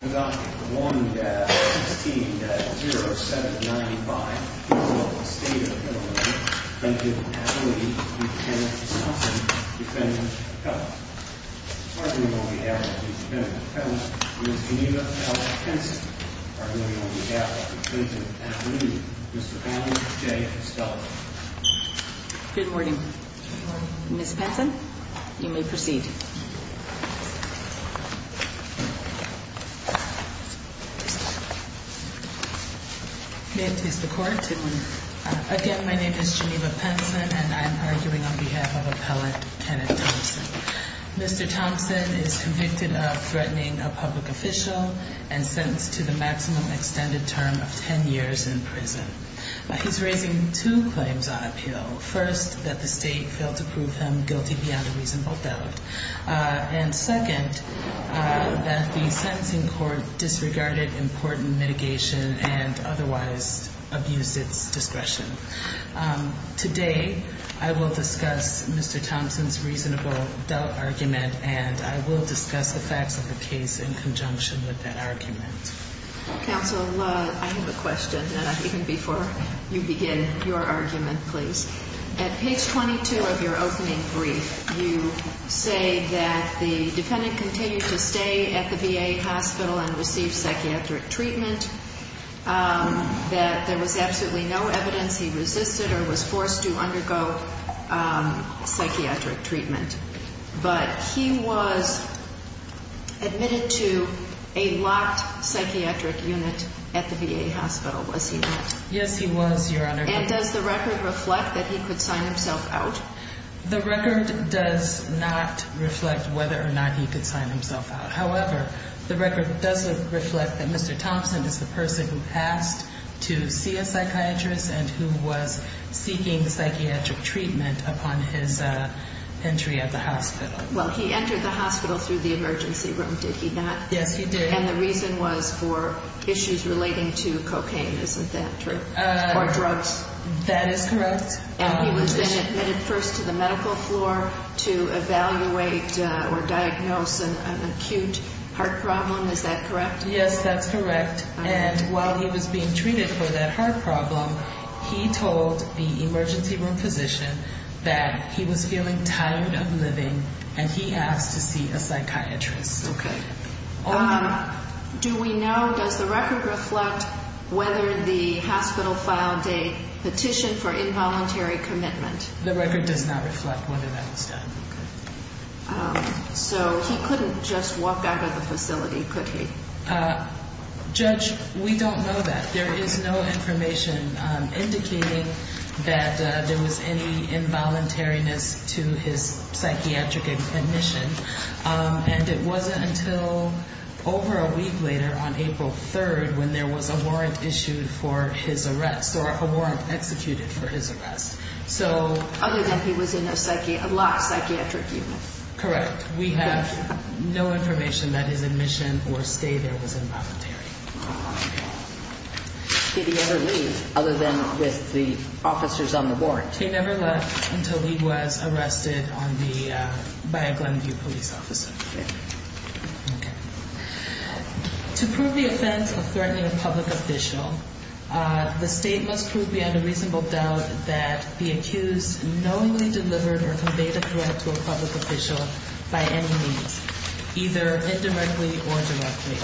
1-16-0-7-95 State of Illinois, Clinton Avenue, Ms. Pamela J. Stelter Good morning. Ms. Stelter, you may proceed. Again, my name is Geneva Penson, and I am arguing on behalf of Appellant Kenneth Thompson. Mr. Thompson is convicted of threatening a public official and sentenced to the maximum extended term of 10 years in prison. He's raising two claims on appeal. First, that the state failed to prove him guilty beyond a reasonable doubt. And second, that the sentencing court disregarded important mitigation and otherwise abused its discretion. Today, I will discuss Mr. Thompson's reasonable doubt argument, and I will discuss the facts of the case in conjunction with that argument. Counsel, I have a question, and even before you begin your argument, please. At page 22 of your opening brief, you say that the defendant continued to stay at the VA hospital and receive psychiatric treatment, that there was absolutely no evidence he resisted or was forced to undergo psychiatric treatment. But he was admitted to a locked psychiatric unit at the VA hospital, was he not? Yes, he was, Your Honor. And does the record reflect that he could sign himself out? The record does not reflect whether or not he could sign himself out. However, the record does reflect that Mr. Thompson is the person who passed to see a psychiatrist and who was seeking psychiatric treatment upon his entry at the hospital. Well, he entered the hospital through the emergency room, did he not? Yes, he did. And the reason was for issues relating to cocaine, isn't that true? Or drugs? That is correct. And he was then admitted first to the medical floor to evaluate or diagnose an acute heart problem, is that correct? Yes, that's correct. And while he was being treated for that heart problem, he told the emergency room physician that he was feeling tired of living, and he asked to see a psychiatrist. Do we know, does the record reflect whether the hospital filed a petition for involuntary commitment? The record does not reflect whether that was done. So he couldn't just walk out of the facility, could he? Judge, we don't know that. There is no information indicating that there was any involuntariness to his psychiatric admission. And it wasn't until over a week later, on April 3rd, when there was a warrant issued for his arrest, or a warrant executed for his arrest. Other than he was in a locked psychiatric unit? Correct. We have no information that his admission or stay there was involuntary. Did he ever leave, other than with the officers on the warrant? He never left until he was arrested by a Glenview police officer. Okay. To prove the offense of threatening a public official, the state must prove beyond a reasonable doubt that the accused knowingly delivered or conveyed a threat to a public official by any means, either indirectly or directly.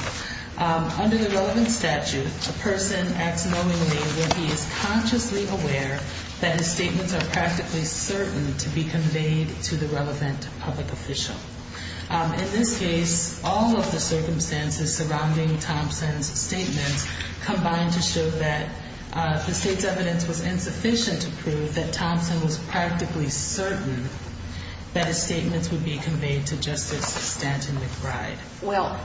Under the relevant statute, a person acts knowingly when he is consciously aware that his statements are practically certain to be conveyed to the relevant public official. In this case, all of the circumstances surrounding Thompson's statements combined to show that the state's evidence was insufficient to prove that Thompson was practically certain that his statements would be conveyed to Justice Stanton McBride. Well,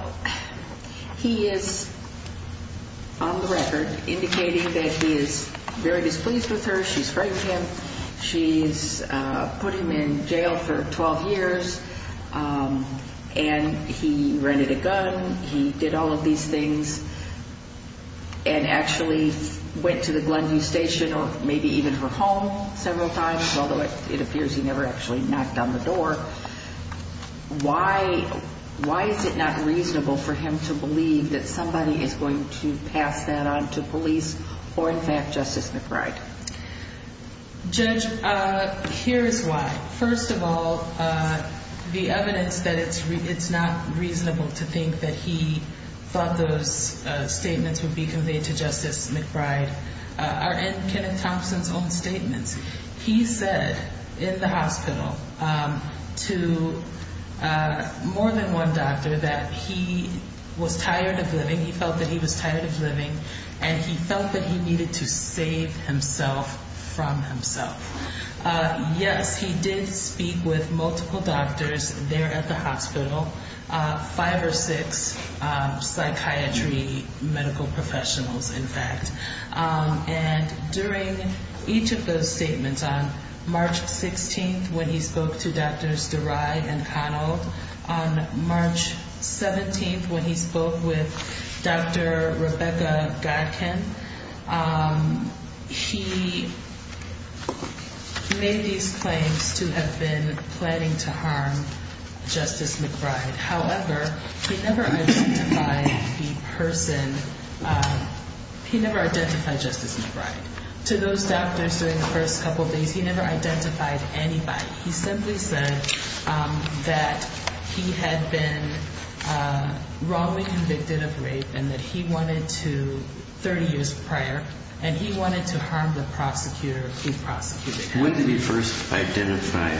he is on the record indicating that he is very displeased with her. She's framed him. She's put him in jail for 12 years. And he rented a gun. He did all of these things and actually went to the Glenview station or maybe even her home several times, although it appears he never actually knocked on the door. Why? Why is it not reasonable for him to believe that somebody is going to pass that on to police or, in fact, Justice McBride? Judge, here's why. First of all, the evidence that it's not reasonable to think that he thought those statements would be conveyed to Justice McBride are in Kenneth Thompson's own statements. He said in the hospital to more than one doctor that he was tired of living. He felt that he was tired of living and he felt that he needed to save himself from himself. Yes, he did speak with multiple doctors there at the hospital, five or six psychiatry medical professionals, in fact. And during each of those statements, on March 16th, when he spoke to Drs. Durai and Connell, on March 17th, when he spoke with Dr. Rebecca Godkin, he made these claims to have been planning to harm Justice McBride. However, he never identified the person, he never identified Justice McBride. To those doctors during the first couple of days, he never identified anybody. He simply said that he had been wrongly convicted of rape and that he wanted to, 30 years prior, and he wanted to harm the prosecutor, the prosecutor. When did he first identify,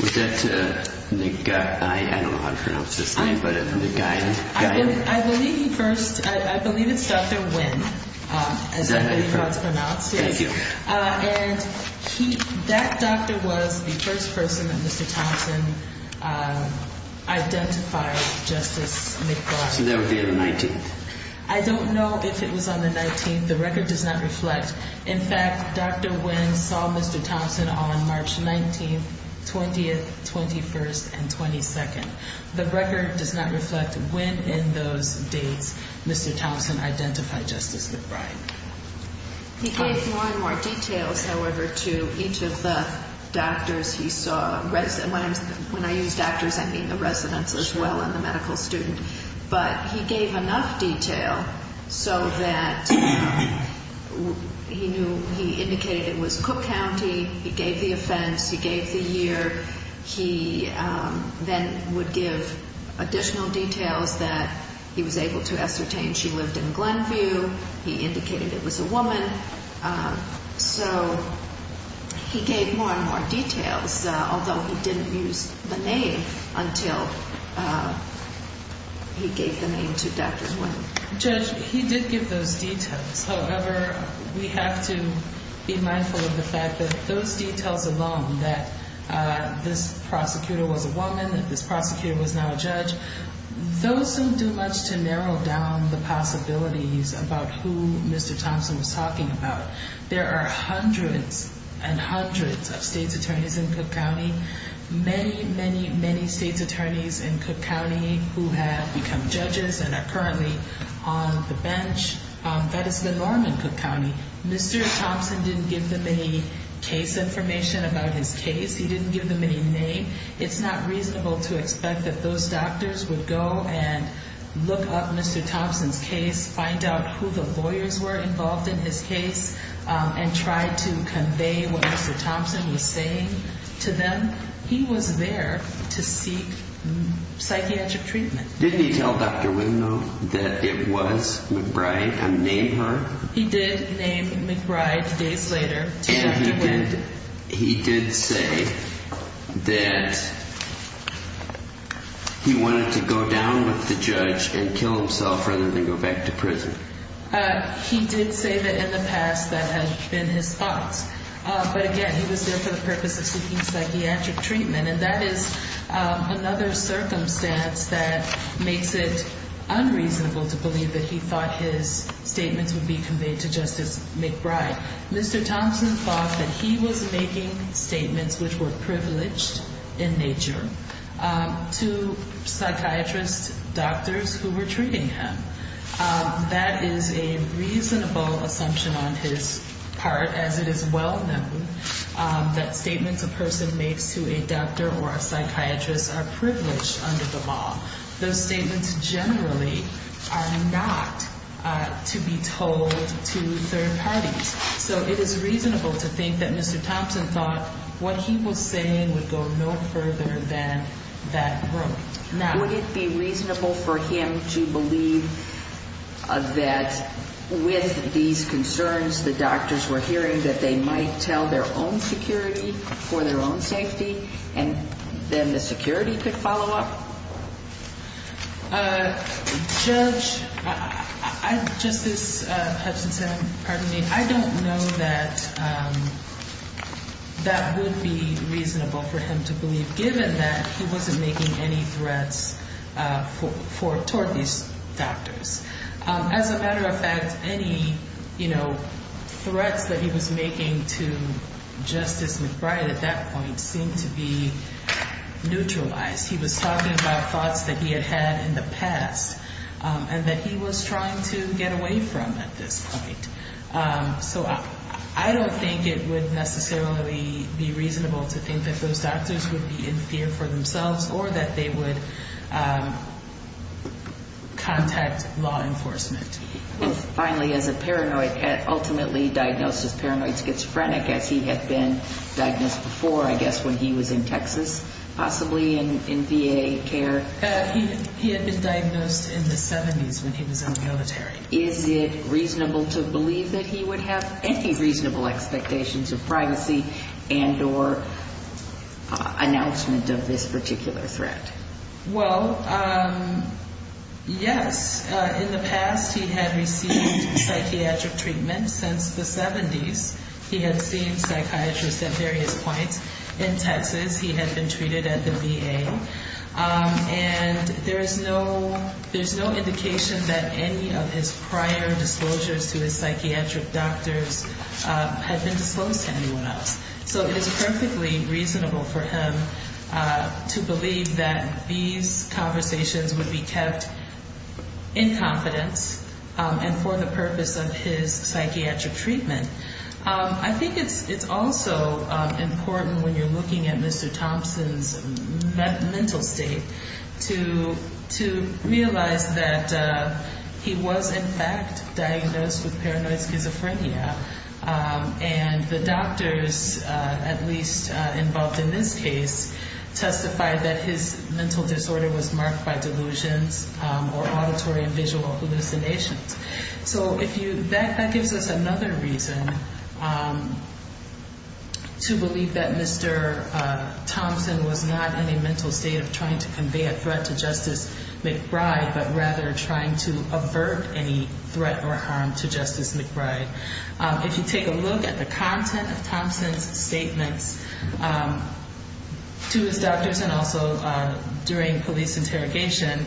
was that, I don't know how to pronounce his name, but Nguyen? I believe he first, I believe it's Dr. Nguyen. Is that how you pronounce it? Thank you. And he, that doctor was the first person that Mr. Thompson identified Justice McBride. So that would be on the 19th? I don't know if it was on the 19th. The record does not reflect. In fact, Dr. Nguyen saw Mr. Thompson on March 19th, 20th, 21st, and 22nd. The record does not reflect when in those dates Mr. Thompson identified Justice McBride. He gave more and more details, however, to each of the doctors he saw. When I use doctors, I mean the residents as well and the medical student. But he gave enough detail so that he knew, he indicated it was Cook County. He gave the offense. He gave the year. He then would give additional details that he was able to ascertain she lived in Glenview. He indicated it was a woman. So he gave more and more details, although he didn't use the name until he gave the name to Dr. Nguyen. Judge, he did give those details. However, we have to be mindful of the fact that those details alone, that this prosecutor was a woman, those don't do much to narrow down the possibilities about who Mr. Thompson was talking about. There are hundreds and hundreds of state's attorneys in Cook County, many, many, many state's attorneys in Cook County who have become judges and are currently on the bench. That is the norm in Cook County. Mr. Thompson didn't give them any case information about his case. He didn't give them any name. It's not reasonable to expect that those doctors would go and look up Mr. Thompson's case, find out who the lawyers were involved in his case, and try to convey what Mr. Thompson was saying to them. He was there to seek psychiatric treatment. Didn't he tell Dr. Nguyen, though, that it was McBride who named her? He did name McBride days later to Dr. Nguyen. And he did say that he wanted to go down with the judge and kill himself rather than go back to prison. He did say that in the past that had been his thoughts. But, again, he was there for the purpose of seeking psychiatric treatment, and that is another circumstance that makes it unreasonable to believe that he thought his statements would be conveyed to Justice McBride. Mr. Thompson thought that he was making statements which were privileged in nature to psychiatrists, doctors who were treating him. That is a reasonable assumption on his part, as it is well known that statements a person makes to a doctor or a psychiatrist are privileged under the law. Those statements generally are not to be told to third parties. So it is reasonable to think that Mr. Thompson thought what he was saying would go no further than that ruling. Now, would it be reasonable for him to believe that with these concerns, the doctors were hearing that they might tell their own security for their own safety, and then the security could follow up? Judge, Justice Hutchinson, pardon me, I don't know that that would be reasonable for him to believe, given that he wasn't making any threats toward these doctors. As a matter of fact, any, you know, threats that he was making to Justice McBride at that point seemed to be neutralized. He was talking about thoughts that he had had in the past and that he was trying to get away from at this point. So I don't think it would necessarily be reasonable to think that those doctors would be in fear for themselves or that they would contact law enforcement. And finally, as a paranoid, ultimately diagnosed as paranoid schizophrenic, as he had been diagnosed before, I guess when he was in Texas, possibly in VA care. He had been diagnosed in the 70s when he was in the military. Is it reasonable to believe that he would have any reasonable expectations of privacy and or announcement of this particular threat? Well, yes. In the past, he had received psychiatric treatment since the 70s. He had seen psychiatrists at various points. In Texas, he had been treated at the VA. And there is no indication that any of his prior disclosures to his psychiatric doctors had been disclosed to anyone else. So it is perfectly reasonable for him to believe that these conversations would be kept in confidence and for the purpose of his psychiatric treatment. I think it's also important when you're looking at Mr. Thompson's mental state to realize that he was, in fact, diagnosed with paranoid schizophrenia. And the doctors, at least involved in this case, testified that his mental disorder was marked by delusions or auditory and visual hallucinations. So that gives us another reason to believe that Mr. Thompson was not in a mental state of trying to convey a threat to Justice McBride, but rather trying to avert any threat or harm to Justice McBride. If you take a look at the content of Thompson's statements to his doctors and also during police interrogation,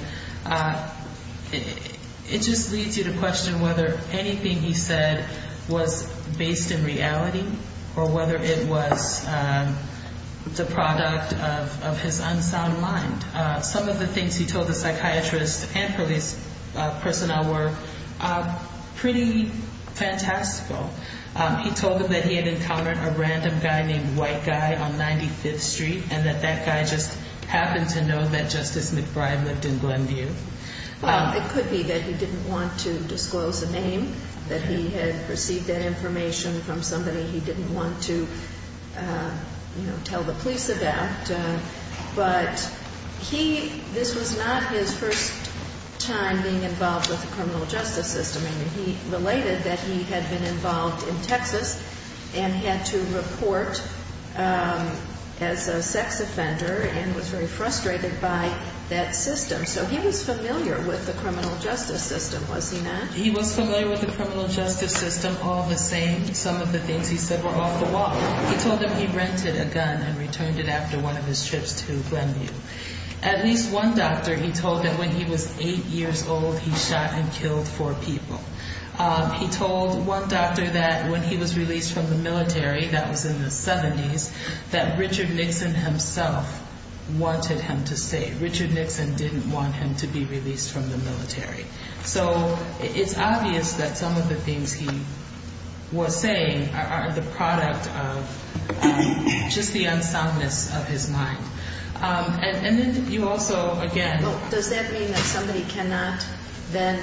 it just leads you to question whether anything he said was based in reality or whether it was the product of his unsound mind. Some of the things he told the psychiatrists and police personnel were pretty fantastical. He told them that he had encountered a random guy named White Guy on 95th Street and that that guy just happened to know that Justice McBride lived in Glenview. Well, it could be that he didn't want to disclose a name, that he had received that information from somebody he didn't want to tell the police about. But this was not his first time being involved with the criminal justice system. I mean, he related that he had been involved in Texas and had to report as a sex offender and was very frustrated by that system. So he was familiar with the criminal justice system, was he not? He was familiar with the criminal justice system. All the same, some of the things he said were off the wall. He told them he rented a gun and returned it after one of his trips to Glenview. At least one doctor he told that when he was eight years old, he shot and killed four people. He told one doctor that when he was released from the military, that was in the 70s, that Richard Nixon himself wanted him to stay. Richard Nixon didn't want him to be released from the military. So it's obvious that some of the things he was saying are the product of just the unsoundness of his mind. And then you also, again... Does that mean that somebody cannot then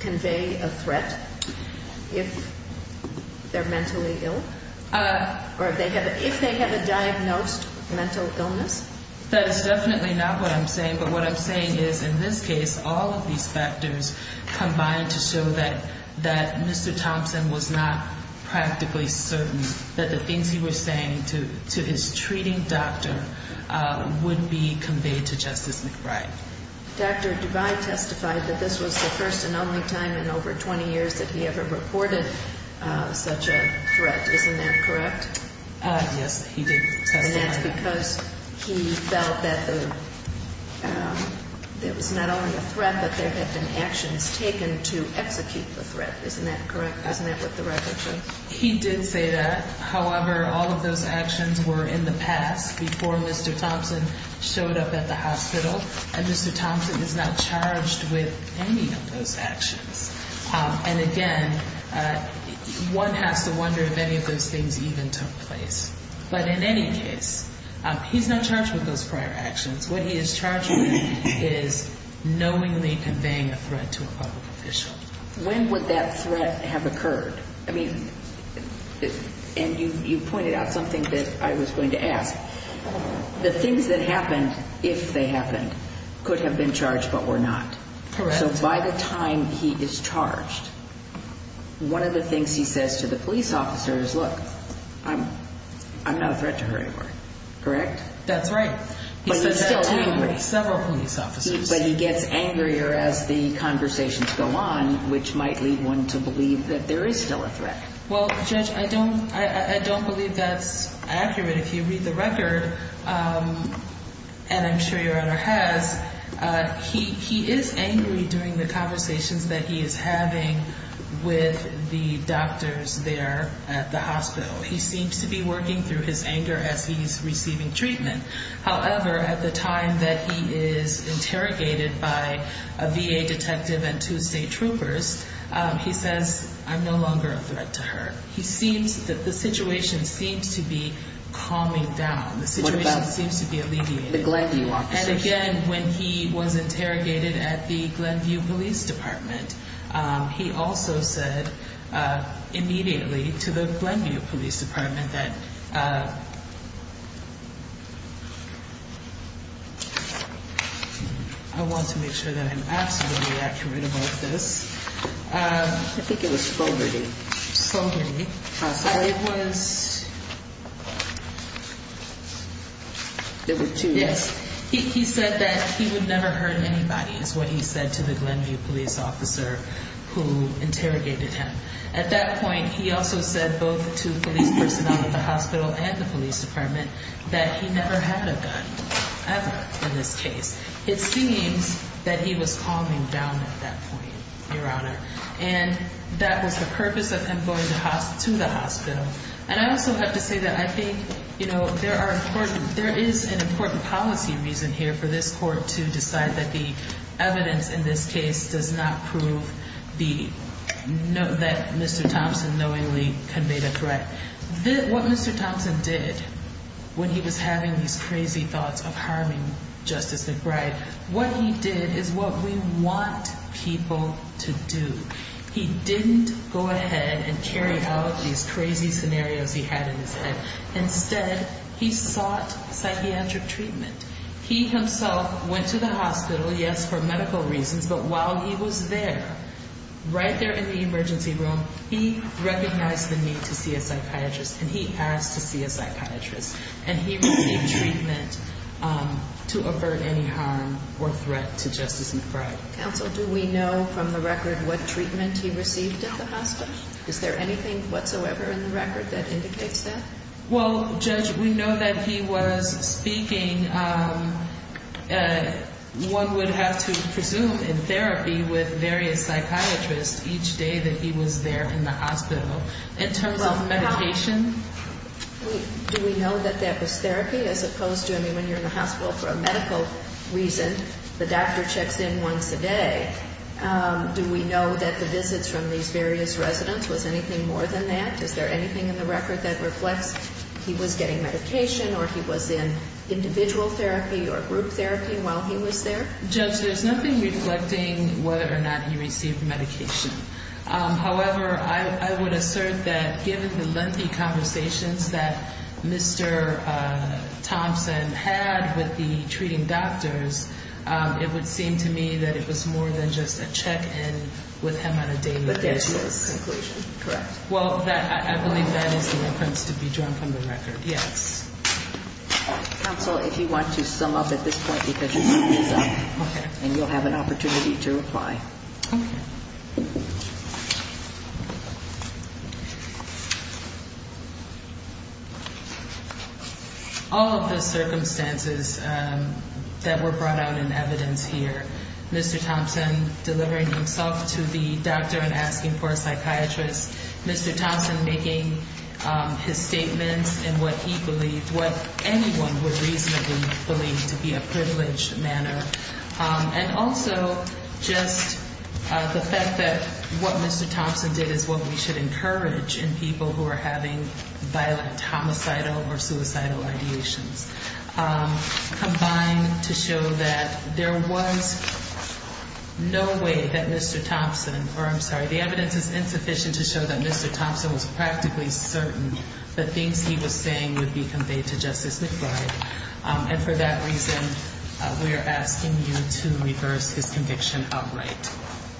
convey a threat if they're mentally ill? Or if they have a diagnosed mental illness? That is definitely not what I'm saying. But what I'm saying is in this case, all of these factors combine to show that Mr. Thompson was not practically certain that the things he was saying to his treating doctor would be conveyed to Justice McBride. Dr. Duvall testified that this was the first and only time in over 20 years that he ever reported such a threat. Isn't that correct? Yes, he did testify. And that's because he felt that it was not only a threat, but there had been actions taken to execute the threat. Isn't that correct? Isn't that what the record says? He did say that. However, all of those actions were in the past, before Mr. Thompson showed up at the hospital. And Mr. Thompson is not charged with any of those actions. And again, one has to wonder if any of those things even took place. But in any case, he's not charged with those prior actions. What he is charged with is knowingly conveying a threat to a public official. When would that threat have occurred? I mean, and you pointed out something that I was going to ask. The things that happened, if they happened, could have been charged but were not. Correct. So by the time he is charged, one of the things he says to the police officer is, Look, I'm not a threat to her anymore. Correct? That's right. But he's still angry. He said that to several police officers. But he gets angrier as the conversations go on, which might lead one to believe that there is still a threat. Well, Judge, I don't believe that's accurate. If you read the record, and I'm sure your honor has, he is angry during the conversations that he is having with the doctors there at the hospital. He seems to be working through his anger as he's receiving treatment. However, at the time that he is interrogated by a VA detective and two state troopers, he says, I'm no longer a threat to her. He seems that the situation seems to be calming down. The situation seems to be alleviating. What about the Glenview officers? I want to make sure that I'm absolutely accurate about this. I think it was Fogarty. Fogarty. It was. There were two. Yes. He said that he would never hurt anybody is what he said to the Glenview police officer who interrogated him. At that point, he also said both to police personnel at the hospital and the police department that he never had a gun ever in this case. It seems that he was calming down at that point, your honor. And that was the purpose of him going to the hospital. And I also have to say that I think there is an important policy reason here for this court to decide that the evidence in this case does not prove that Mr. Thompson knowingly conveyed a threat. What Mr. Thompson did when he was having these crazy thoughts of harming Justice McBride, what he did is what we want people to do. He didn't go ahead and carry out these crazy scenarios he had in his head. Instead, he sought psychiatric treatment. He himself went to the hospital, yes, for medical reasons, but while he was there, right there in the emergency room, he recognized the need to see a psychiatrist and he asked to see a psychiatrist. And he received treatment to avert any harm or threat to Justice McBride. Counsel, do we know from the record what treatment he received at the hospital? Is there anything whatsoever in the record that indicates that? Well, Judge, we know that he was speaking, one would have to presume, in therapy with various psychiatrists each day that he was there in the hospital. In terms of medication? Do we know that that was therapy as opposed to, I mean, when you're in the hospital for a medical reason, the doctor checks in once a day. Do we know that the visits from these various residents was anything more than that? Is there anything in the record that reflects he was getting medication or he was in individual therapy or group therapy while he was there? Judge, there's nothing reflecting whether or not he received medication. However, I would assert that given the lengthy conversations that Mr. Thompson had with the treating doctors, it would seem to me that it was more than just a check-in with him on a daily basis. But that's the conclusion, correct? Well, I believe that is the reference to be drawn from the record, yes. Counsel, if you want to sum up at this point, because your time is up. Okay. And you'll have an opportunity to reply. Okay. All of the circumstances that were brought out in evidence here, Mr. Thompson delivering himself to the doctor and asking for a psychiatrist, Mr. Thompson making his statements in what he believed, what anyone would reasonably believe to be a privileged manner, and also just the fact that what Mr. Thompson did is what we should encourage in people who are having violent homicidal or suicidal ideations, combined to show that there was no way that Mr. Thompson, or I'm sorry, the evidence is insufficient to show that Mr. Thompson was practically certain the things he was saying would be conveyed to Justice McBride. And for that reason, we are asking you to reverse his conviction outright.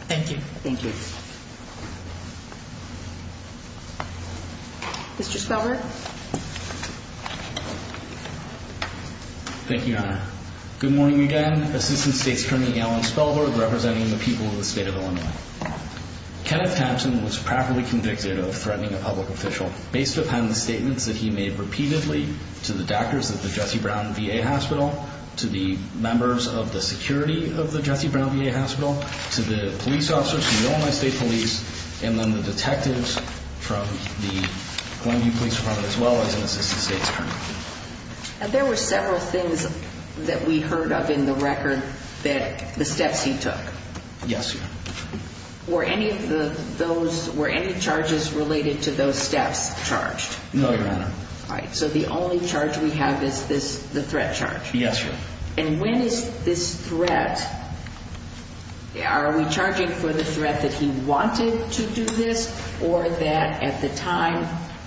Thank you. Thank you. Mr. Spellberg. Thank you, Your Honor. Good morning again. Assistant State's Attorney Alan Spellberg representing the people of the state of Illinois. Kenneth Thompson was properly convicted of threatening a public official based upon the statements that he made repeatedly to the doctors at the Jesse Brown VA Hospital, to the members of the security of the Jesse Brown VA Hospital, to the police officers, to the Illinois State Police, and then the detectives from the Glenview Police Department, as well as an Assistant State's Attorney. And there were several things that we heard of in the record that the steps he took. Yes, Your Honor. Were any of those, were any charges related to those steps charged? No, Your Honor. All right. So the only charge we have is this, the threat charge? Yes, Your Honor. And when is this threat, are we charging for the threat that he wanted to do this, or that at the time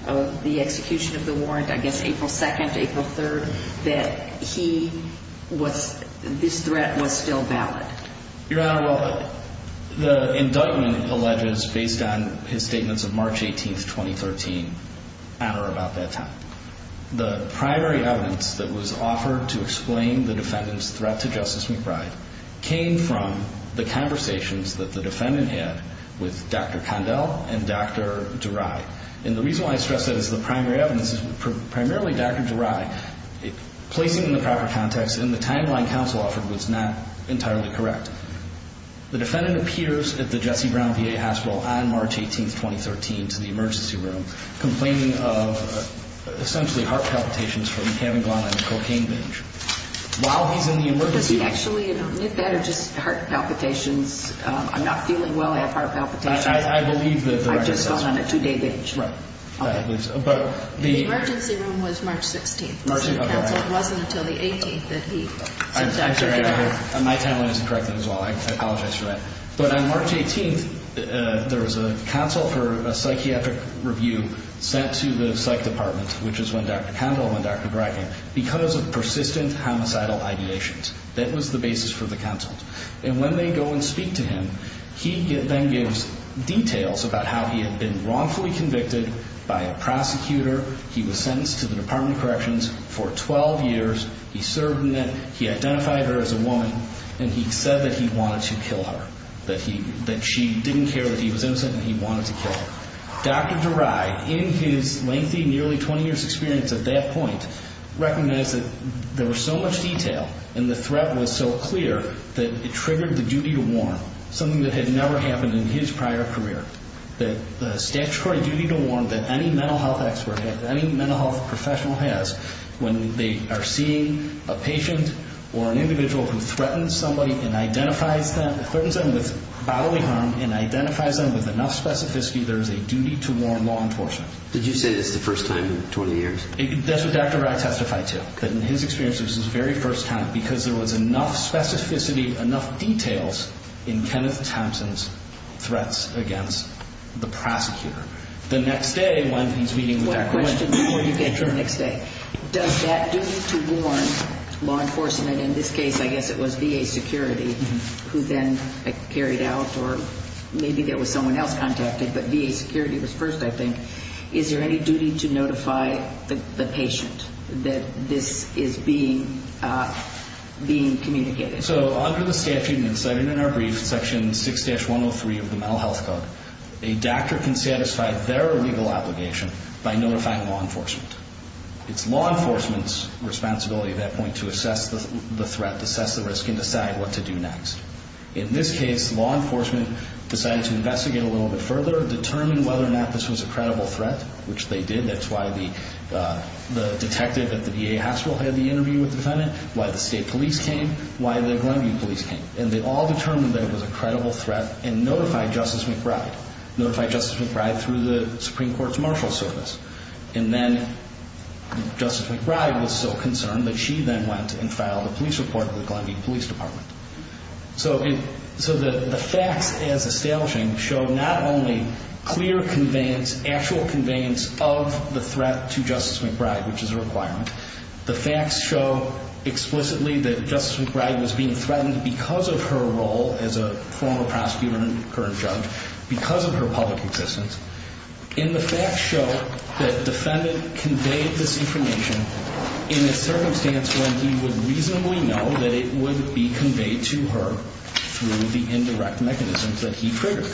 of the execution of the warrant, I guess April 2nd, April 3rd, that he was, this threat was still valid? Your Honor, well, the indictment alleges, based on his statements of March 18th, 2013, about that time. The primary evidence that was offered to explain the defendant's threat to Justice McBride came from the conversations that the defendant had with Dr. Condell and Dr. Durai. And the reason why I stress that as the primary evidence is primarily Dr. Durai, placing in the proper context and the timeline counsel offered was not entirely correct. The defendant appears at the Jesse Brown VA Hospital on March 18th, 2013 to the emergency room complaining of essentially heart palpitations from having gone on a cocaine binge. While he's in the emergency room. Does he actually admit that or just heart palpitations, I'm not feeling well, I have heart palpitations? I believe that the record says that. Right. Okay. The emergency room was March 16th. March, okay. It wasn't until the 18th that he said Dr. Durai. My timeline isn't correct as well, I apologize for that. But on March 18th, there was a counsel for a psychiatric review sent to the psych department, which is when Dr. Condell and Dr. Durai came, because of persistent homicidal ideations. That was the basis for the counsel. And when they go and speak to him, he then gives details about how he had been wrongfully convicted by a prosecutor, he was sentenced to the Department of Corrections for 12 years, he served in it, he identified her as a woman, and he said that he wanted to kill her. That she didn't care that he was innocent and he wanted to kill her. Dr. Durai, in his lengthy, nearly 20 years experience at that point, recognized that there was so much detail and the threat was so clear that it triggered the duty to warn, something that had never happened in his prior career. The statutory duty to warn that any mental health expert, any mental health professional has when they are seeing a patient or an individual who threatens somebody and identifies them with bodily harm and identifies them with enough specificity, there is a duty to warn law enforcement. Did you say this the first time in 20 years? That's what Dr. Durai testified to. That in his experience, this was the very first time because there was enough specificity, enough details in Kenneth Thompson's threats against the prosecutor. The next day, when he's meeting with that client... One question before you get to the next day. Does that duty to warn law enforcement, in this case, I guess it was VA security, who then carried out, or maybe there was someone else contacted, but VA security was first, I think. Is there any duty to notify the patient that this is being communicated? Under the statute, and cited in our brief, Section 6-103 of the Mental Health Code, a doctor can satisfy their legal obligation by notifying law enforcement. It's law enforcement's responsibility at that point to assess the threat, assess the risk, and decide what to do next. In this case, law enforcement decided to investigate a little bit further, determine whether or not this was a credible threat, which they did. That's why the detective at the VA hospital had the interview with the defendant, why the state police came, why the Glenview police came. They all determined that it was a credible threat and notified Justice McBride, notified Justice McBride through the Supreme Court's marshal service. Then Justice McBride was so concerned that she then went and filed a police report with the Glenview Police Department. So the facts as establishing show not only clear conveyance, actual conveyance of the threat to Justice McBride, which is a requirement. The facts show explicitly that Justice McBride was being threatened because of her role as a former prosecutor and current judge, because of her public existence. And the facts show that the defendant conveyed this information in a circumstance when he would reasonably know that it would be conveyed to her through the indirect mechanisms that he triggered.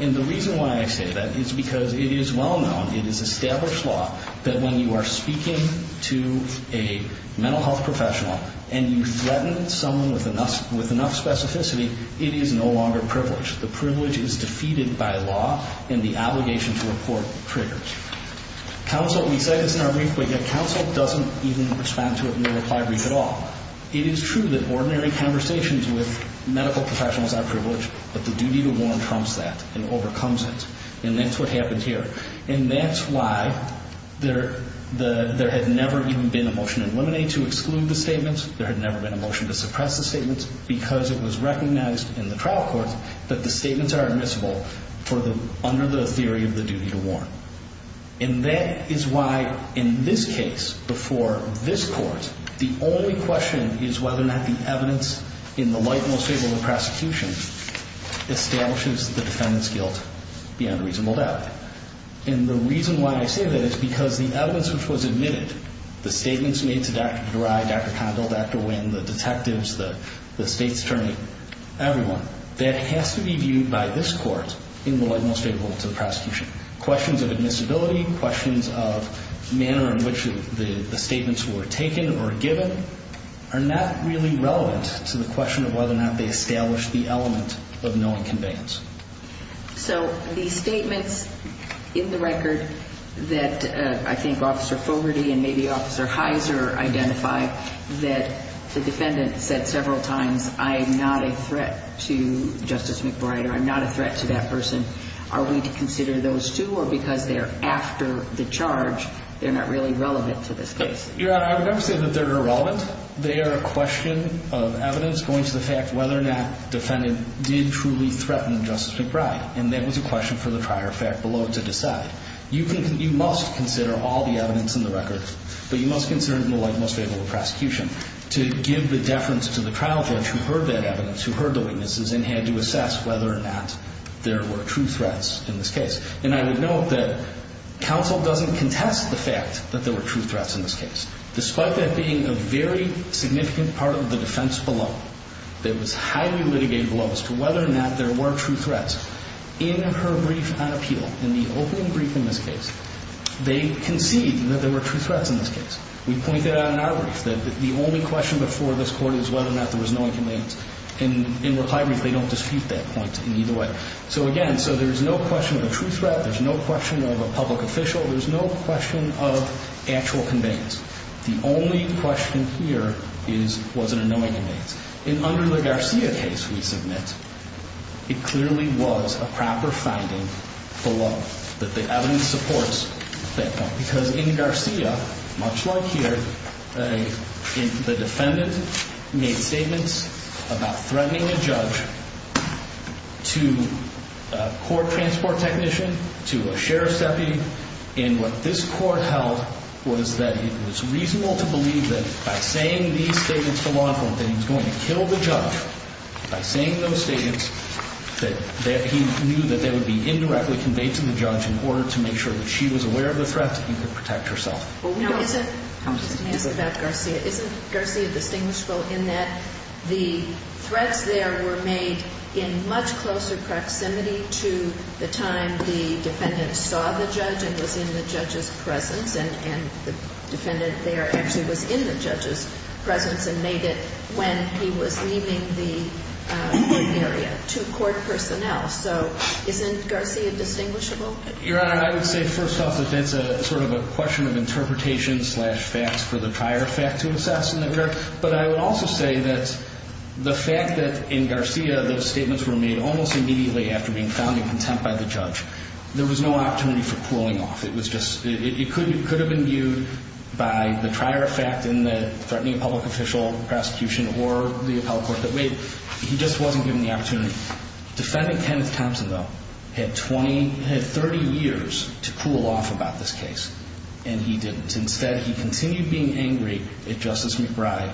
And the reason why I say that is because it is well known, it is established law, that when you are speaking to a mental health professional and you threaten someone with enough specificity, it is no longer privilege. The privilege is defeated by law, and the obligation to report triggers. Counsel, we say this in our brief, but yet counsel doesn't even respond to it in the reply brief at all. It is true that ordinary conversations with medical professionals are privileged, but the duty to warn trumps that and overcomes it. And that's what happened here. And that's why there had never even been a motion in limine to exclude the statement. There had never been a motion to suppress the statement because it was recognized in the trial court that the statements are admissible under the theory of the duty to warn. And that is why, in this case, before this court, the only question is whether or not the evidence in the light and most favorable of the prosecution establishes the defendant's guilt beyond a reasonable doubt. And the reason why I say that is because the evidence which was admitted, the statements made to Dr. Dorai, Dr. Condell, Dr. Winn, the detectives, the state's attorney, everyone, that has to be viewed by this court in the light and most favorable to the prosecution. Questions of admissibility, questions of manner in which the statements were taken or given are not really relevant to the question of whether or not they establish the element of knowing conveyance. So the statements in the record that I think Officer Fogarty and maybe Officer Heiser identify that the defendant said several times, I am not a threat to Justice McBride or I'm not a threat to that person. Are we to consider those two or because they're after the charge, they're not really relevant to this case? Your Honor, I would never say that they're irrelevant. They are a question of evidence going to the fact whether or not the defendant did truly threaten Justice McBride. And that was a question for the prior fact below to decide. You must consider all the evidence in the record, but you must consider it in the light and most favorable to the prosecution to give the deference to the trial judge who heard that evidence, who heard the weaknesses, and had to assess whether or not there were true threats in this case. And I would note that counsel doesn't contest the fact that there were true threats in this case, despite that being a very significant part of the defense below that was highly litigated below as to whether or not there were true threats. In her brief on appeal, in the opening brief in this case, they concede that there were true threats in this case. We point that out in our brief. The only question before this court is whether or not there was knowing conveyance. And in reply brief, they don't dispute that point in either way. So again, so there's no question of a true threat. There's no question of a public official. There's no question of actual conveyance. The only question here is was there a knowing conveyance. And under the Garcia case we submit, it clearly was a proper finding below that the evidence supports that point. Because in Garcia, much like here, the defendant made statements about threatening a judge to a court transport technician, to a sheriff's deputy. And what this court held was that it was reasonable to believe that by saying these statements to law enforcement that he was going to kill the judge, by saying those statements, that he knew that they would be indirectly conveyed to the judge in order to make sure that she was aware of the threat and could protect herself. Now, isn't Garcia distinguishable in that the threats there were made in much closer proximity to the time the defendant saw the judge and was in the judge's presence and the defendant there actually was in the judge's presence and made it when he was leaving the area to court personnel? So isn't Garcia distinguishable? Your Honor, I would say first off that that's sort of a question of interpretation slash facts for the prior fact to assess. But I would also say that the fact that in Garcia those statements were made almost immediately after being found in contempt by the judge, there was no opportunity for pulling off. It could have been viewed by the prior fact in the threatening public official prosecution or the appellate court that made it. He just wasn't given the opportunity. Defendant Kenneth Thompson, though, had 30 years to cool off about this case, and he didn't. Instead, he continued being angry at Justice McBride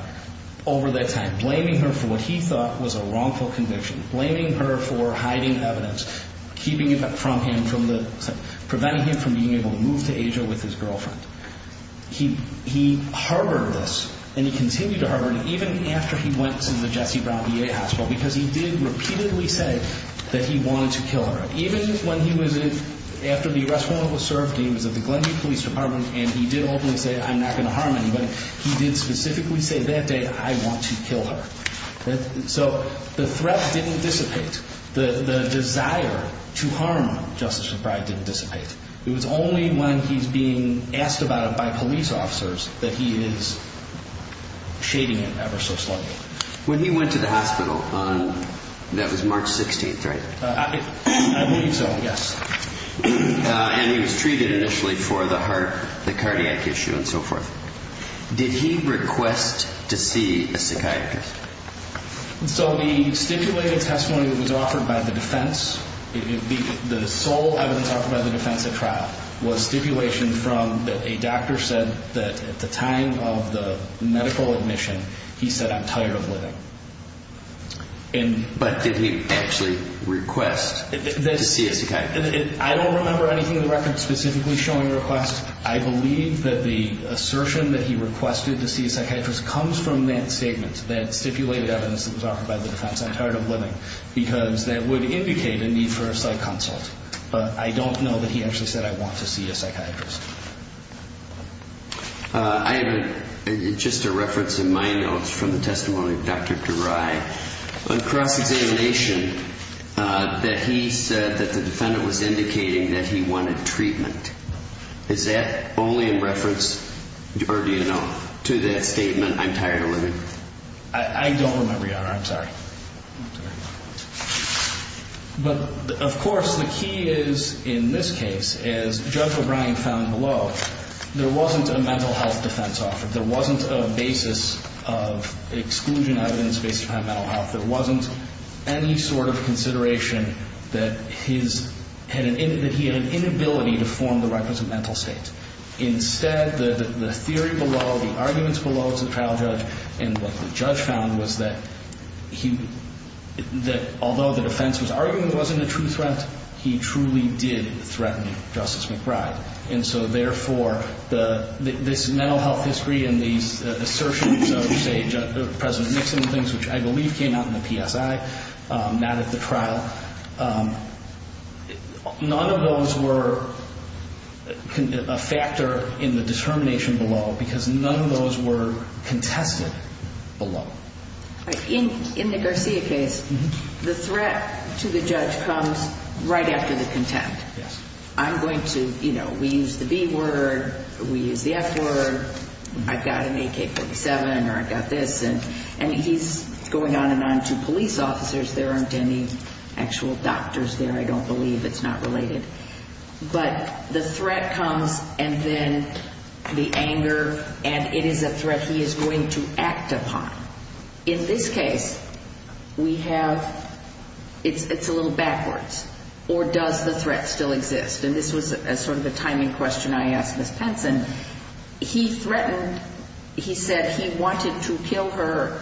over that time, blaming her for what he thought was a wrongful conviction, blaming her for hiding evidence, keeping it from him, preventing him from being able to move to Asia with his girlfriend. He harbored this, and he continued to harbor it, even after he went to the Jesse Brown VA hospital because he did repeatedly say that he wanted to kill her. Even when he was in, after the arrest warrant was served, he was at the Glenview Police Department, and he did openly say, I'm not going to harm anybody. He did specifically say that day, I want to kill her. So the threat didn't dissipate. The desire to harm Justice McBride didn't dissipate. It was only when he's being asked about it by police officers that he is shading it ever so slightly. When he went to the hospital on, that was March 16th, right? I believe so, yes. And he was treated initially for the heart, the cardiac issue, and so forth. Did he request to see a psychiatrist? So the stipulated testimony that was offered by the defense, the sole evidence offered by the defense at trial, was stipulation from a doctor said that at the time of the medical admission, he said, I'm tired of living. But did he actually request to see a psychiatrist? I don't remember anything in the record specifically showing a request. But I don't know that he actually said, I want to see a psychiatrist. I have just a reference in my notes from the testimony of Dr. DeRai. A cross-examination that he said that the defendant was indicating that he wanted treatment. Is that only in reference, or do you know, to that statement? I don't remember, Your Honor. I'm sorry. But, of course, the key is, in this case, as Judge O'Brien found below, there wasn't a mental health defense offered. There wasn't a basis of exclusion out of the space to have mental health. There wasn't any sort of consideration that he had an inability to form the records of mental state. Instead, the theory below, the arguments below as a trial judge, and what the judge found was that although the defense was arguing it wasn't a true threat, he truly did threaten Justice McBride. And so, therefore, this mental health history and these assertions of, say, President Nixon and things, which I believe came out in the PSI, not at the trial, none of those were a factor in the determination below because none of those were contested below. In the Garcia case, the threat to the judge comes right after the contempt. Yes. I'm going to, you know, we use the B word, we use the F word, I've got an AK-47, or I've got this, and he's going on and on to police officers. There aren't any actual doctors there, I don't believe. It's not related. But the threat comes and then the anger, and it is a threat he is going to act upon. In this case, we have, it's a little backwards. Or does the threat still exist? And this was sort of a timing question I asked Ms. Penson. He threatened, he said he wanted to kill her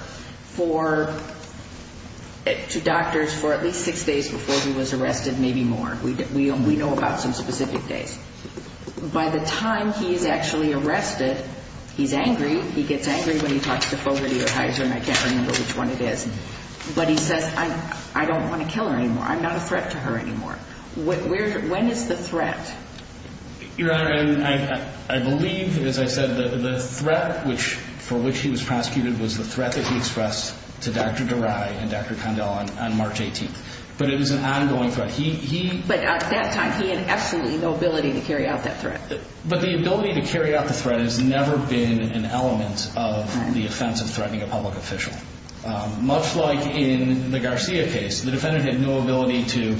for, to doctors for at least six days before he was arrested, maybe more. We know about some specific days. By the time he's actually arrested, he's angry. He gets angry when he talks to Fogarty or Heizer, and I can't remember which one it is. But he says, I don't want to kill her anymore. I'm not a threat to her anymore. When is the threat? Your Honor, I believe, as I said, the threat for which he was prosecuted was the threat that he expressed to Dr. Durai and Dr. Condell on March 18th. But it was an ongoing threat. But at that time, he had absolutely no ability to carry out that threat. But the ability to carry out the threat has never been an element of the offense of threatening a public official. Much like in the Garcia case, the defendant had no ability to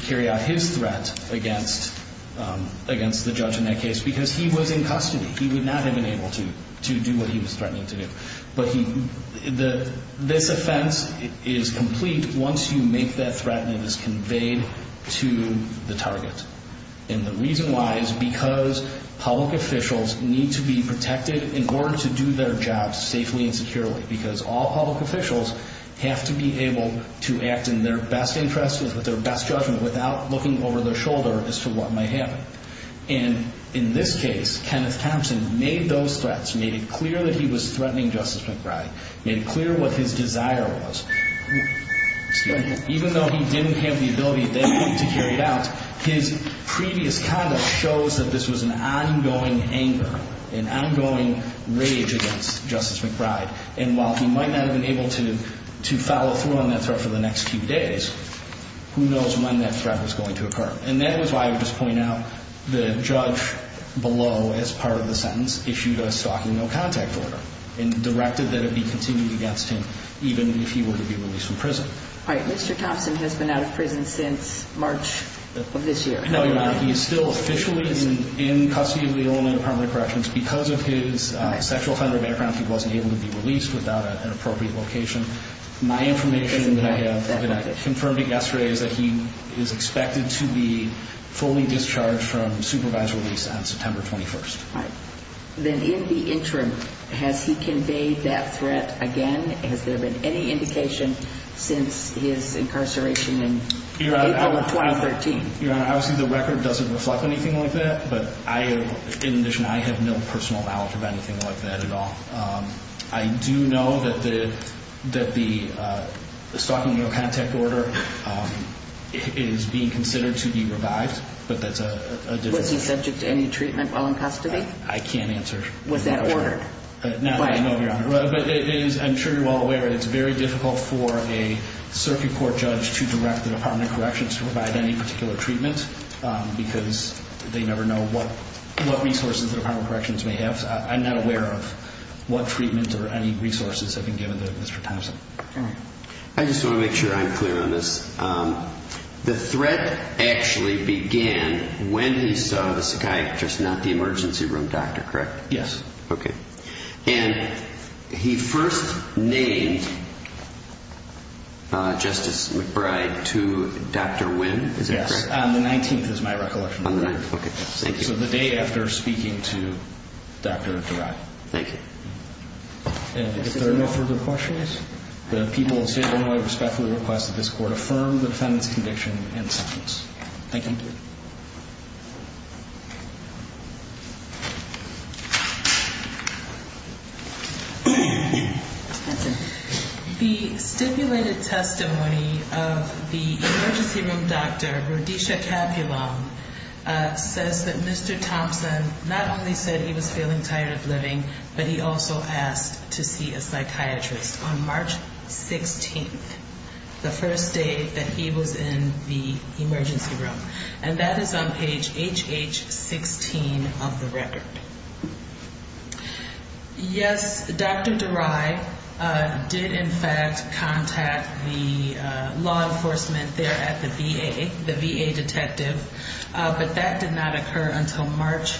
carry out his threat against the judge in that case because he was in custody. He would not have been able to do what he was threatening to do. But this offense is complete once you make that threat and it is conveyed to the target. And the reason why is because public officials need to be protected in order to do their jobs safely and securely. Because all public officials have to be able to act in their best interest, with their best judgment, without looking over their shoulder as to what might happen. And in this case, Kenneth Thompson made those threats, made it clear that he was threatening Justice McBride, made it clear what his desire was. Even though he didn't have the ability then to carry it out, his previous conduct shows that this was an ongoing anger, an ongoing rage against Justice McBride. And while he might not have been able to follow through on that threat for the next few days, who knows when that threat was going to occur. And that was why I would just point out the judge below, as part of the sentence, issued a stalking no contact order. And directed that it be continued against him, even if he were to be released from prison. All right, Mr. Thompson has been out of prison since March of this year. No, he's not. He's still officially in custody of the Illinois Department of Corrections. Because of his sexual offender background, he wasn't able to be released without an appropriate location. My information that I have, and I confirmed it yesterday, is that he is expected to be fully discharged from supervised release on September 21st. All right. Then in the interim, has he conveyed that threat again? Has there been any indication since his incarceration in April of 2013? Your Honor, obviously the record doesn't reflect anything like that. But in addition, I have no personal knowledge of anything like that at all. I do know that the stalking no contact order is being considered to be revived, but that's a different story. Was he subject to any treatment while in custody? I can't answer. Was that ordered? Not that I know of, Your Honor. But I'm sure you're well aware that it's very difficult for a circuit court judge to direct the Department of Corrections to provide any particular treatment. Because they never know what resources the Department of Corrections may have. I'm not aware of what treatment or any resources have been given to Mr. Thompson. All right. I just want to make sure I'm clear on this. The threat actually began when he saw the psychiatrist, not the emergency room doctor, correct? Yes. Okay. And he first named Justice McBride to Dr. Wynn, is that correct? Yes, on the 19th is my recollection. On the 19th. Okay. Thank you. So the day after speaking to Dr. Durai. Thank you. And if there are no further questions, the people of the state of Illinois respectfully request that this court affirm the defendant's conviction and sentence. Thank you. Thank you. The stipulated testimony of the emergency room doctor, Rodesha Capulon, says that Mr. Thompson not only said he was feeling tired of living, but he also asked to see a psychiatrist on March 16th, the first day that he was in the emergency room. And that is on page HH16 of the record. Yes, Dr. Durai did in fact contact the law enforcement there at the VA, the VA detective, but that did not occur until March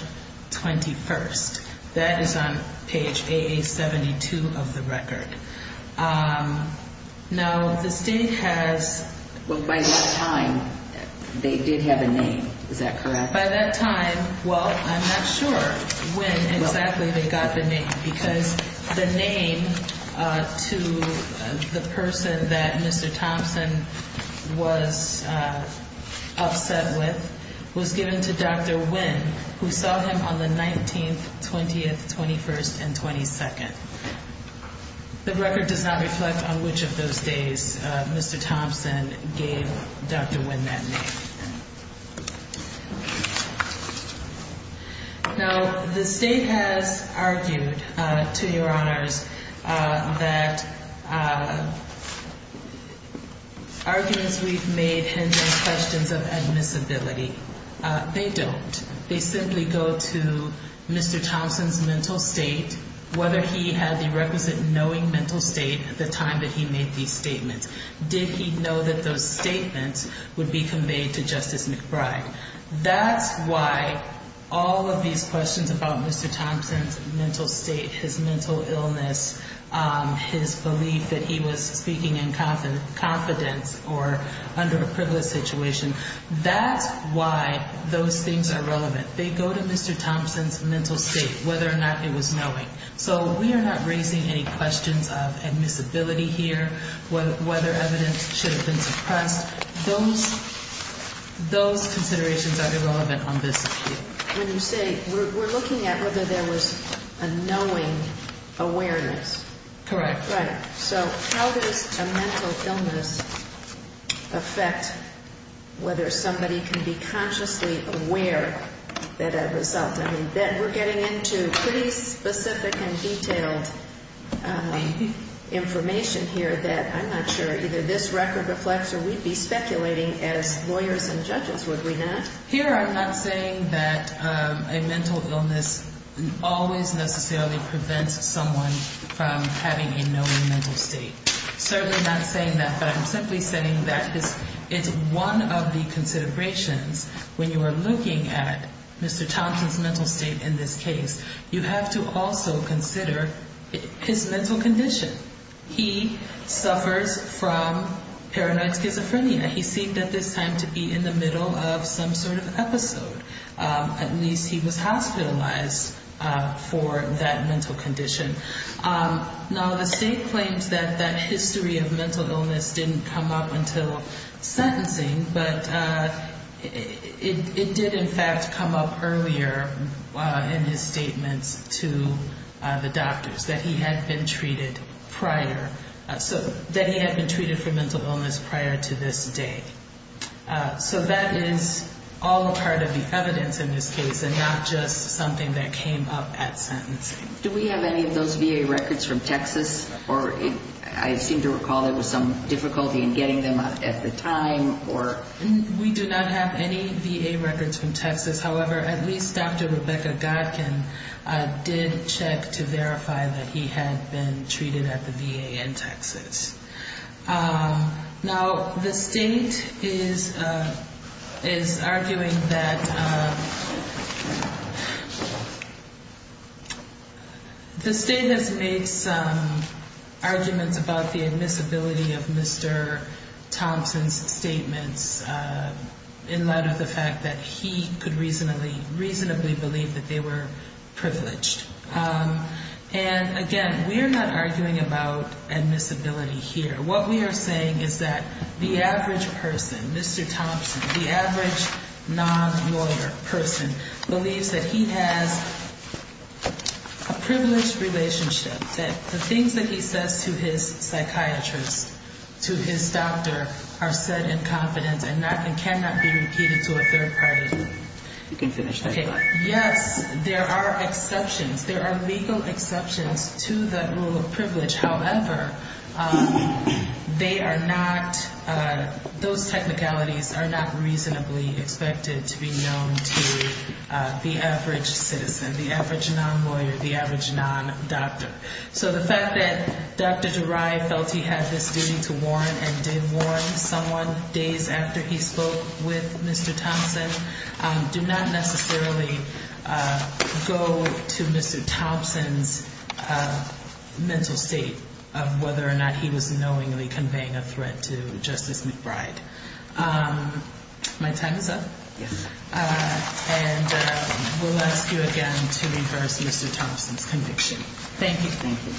21st. That is on page AA72 of the record. Now, the state has. Well, by that time, they did have a name, is that correct? By that time, well, I'm not sure when exactly they got the name, because the name to the person that Mr. Thompson was upset with was given to Dr. Wynn, who saw him on the 19th, 20th, 21st, and 22nd. The record does not reflect on which of those days Mr. Thompson gave Dr. Wynn that name. Now, the state has argued, to your honors, that arguments we've made hint at questions of admissibility. They don't. They simply go to Mr. Thompson's mental state, whether he had the requisite knowing mental state at the time that he made these statements. Did he know that those statements would be conveyed to Justice McBride? That's why all of these questions about Mr. Thompson's mental state, his mental illness, his belief that he was speaking in confidence or under a privileged situation, that's why those things are relevant. They go to Mr. Thompson's mental state, whether or not it was knowing. So we are not raising any questions of admissibility here, whether evidence should have been suppressed. Those considerations are irrelevant on this issue. When you say we're looking at whether there was a knowing awareness. Correct. Right. So how does a mental illness affect whether somebody can be consciously aware that a result? I mean, we're getting into pretty specific and detailed information here that I'm not sure either this record reflects or we'd be speculating as lawyers and judges, would we not? Here, I'm not saying that a mental illness always necessarily prevents someone from having a knowing mental state. Certainly not saying that, but I'm simply saying that it's one of the considerations when you are looking at Mr. Thompson's mental state in this case. You have to also consider his mental condition. He suffers from paranoid schizophrenia. He seemed at this time to be in the middle of some sort of episode. At least he was hospitalized for that mental condition. Now, the state claims that that history of mental illness didn't come up until sentencing, but it did, in fact, come up earlier in his statements to the doctors, that he had been treated prior. So that he had been treated for mental illness prior to this date. So that is all a part of the evidence in this case and not just something that came up at sentencing. Do we have any of those VA records from Texas? I seem to recall there was some difficulty in getting them at the time. However, at least Dr. Rebecca Godkin did check to verify that he had been treated at the VA in Texas. Now, the state is arguing that... The state has made some arguments about the admissibility of Mr. Thompson's statements in light of the fact that he could reasonably believe that they were privileged. And again, we're not arguing about admissibility here. What we are saying is that the average person, Mr. Thompson, the average non-lawyer person, believes that he has a privileged relationship, that the things that he says to his psychiatrist, to his doctor, are said in confidence and cannot be repeated to a third party. You can finish that. Yes, there are exceptions. There are legal exceptions to the rule of privilege. However, they are not, those technicalities are not reasonably expected to be known to the average citizen, the average non-lawyer, the average non-doctor. So the fact that Dr. Durai felt he had this duty to warn and did warn someone days after he spoke with Mr. Thompson do not necessarily go to Mr. Thompson's mental state of whether or not he was knowingly conveying a threat to Justice McBride. My time is up. And we'll ask you again to reverse Mr. Thompson's conviction. Thank you. Thank you.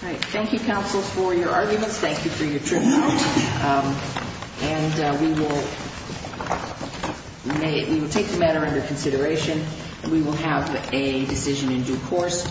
All right. Thank you, counsel, for your arguments. Thank you for your tribunal. And we will take the matter under consideration. We will have a decision in due course.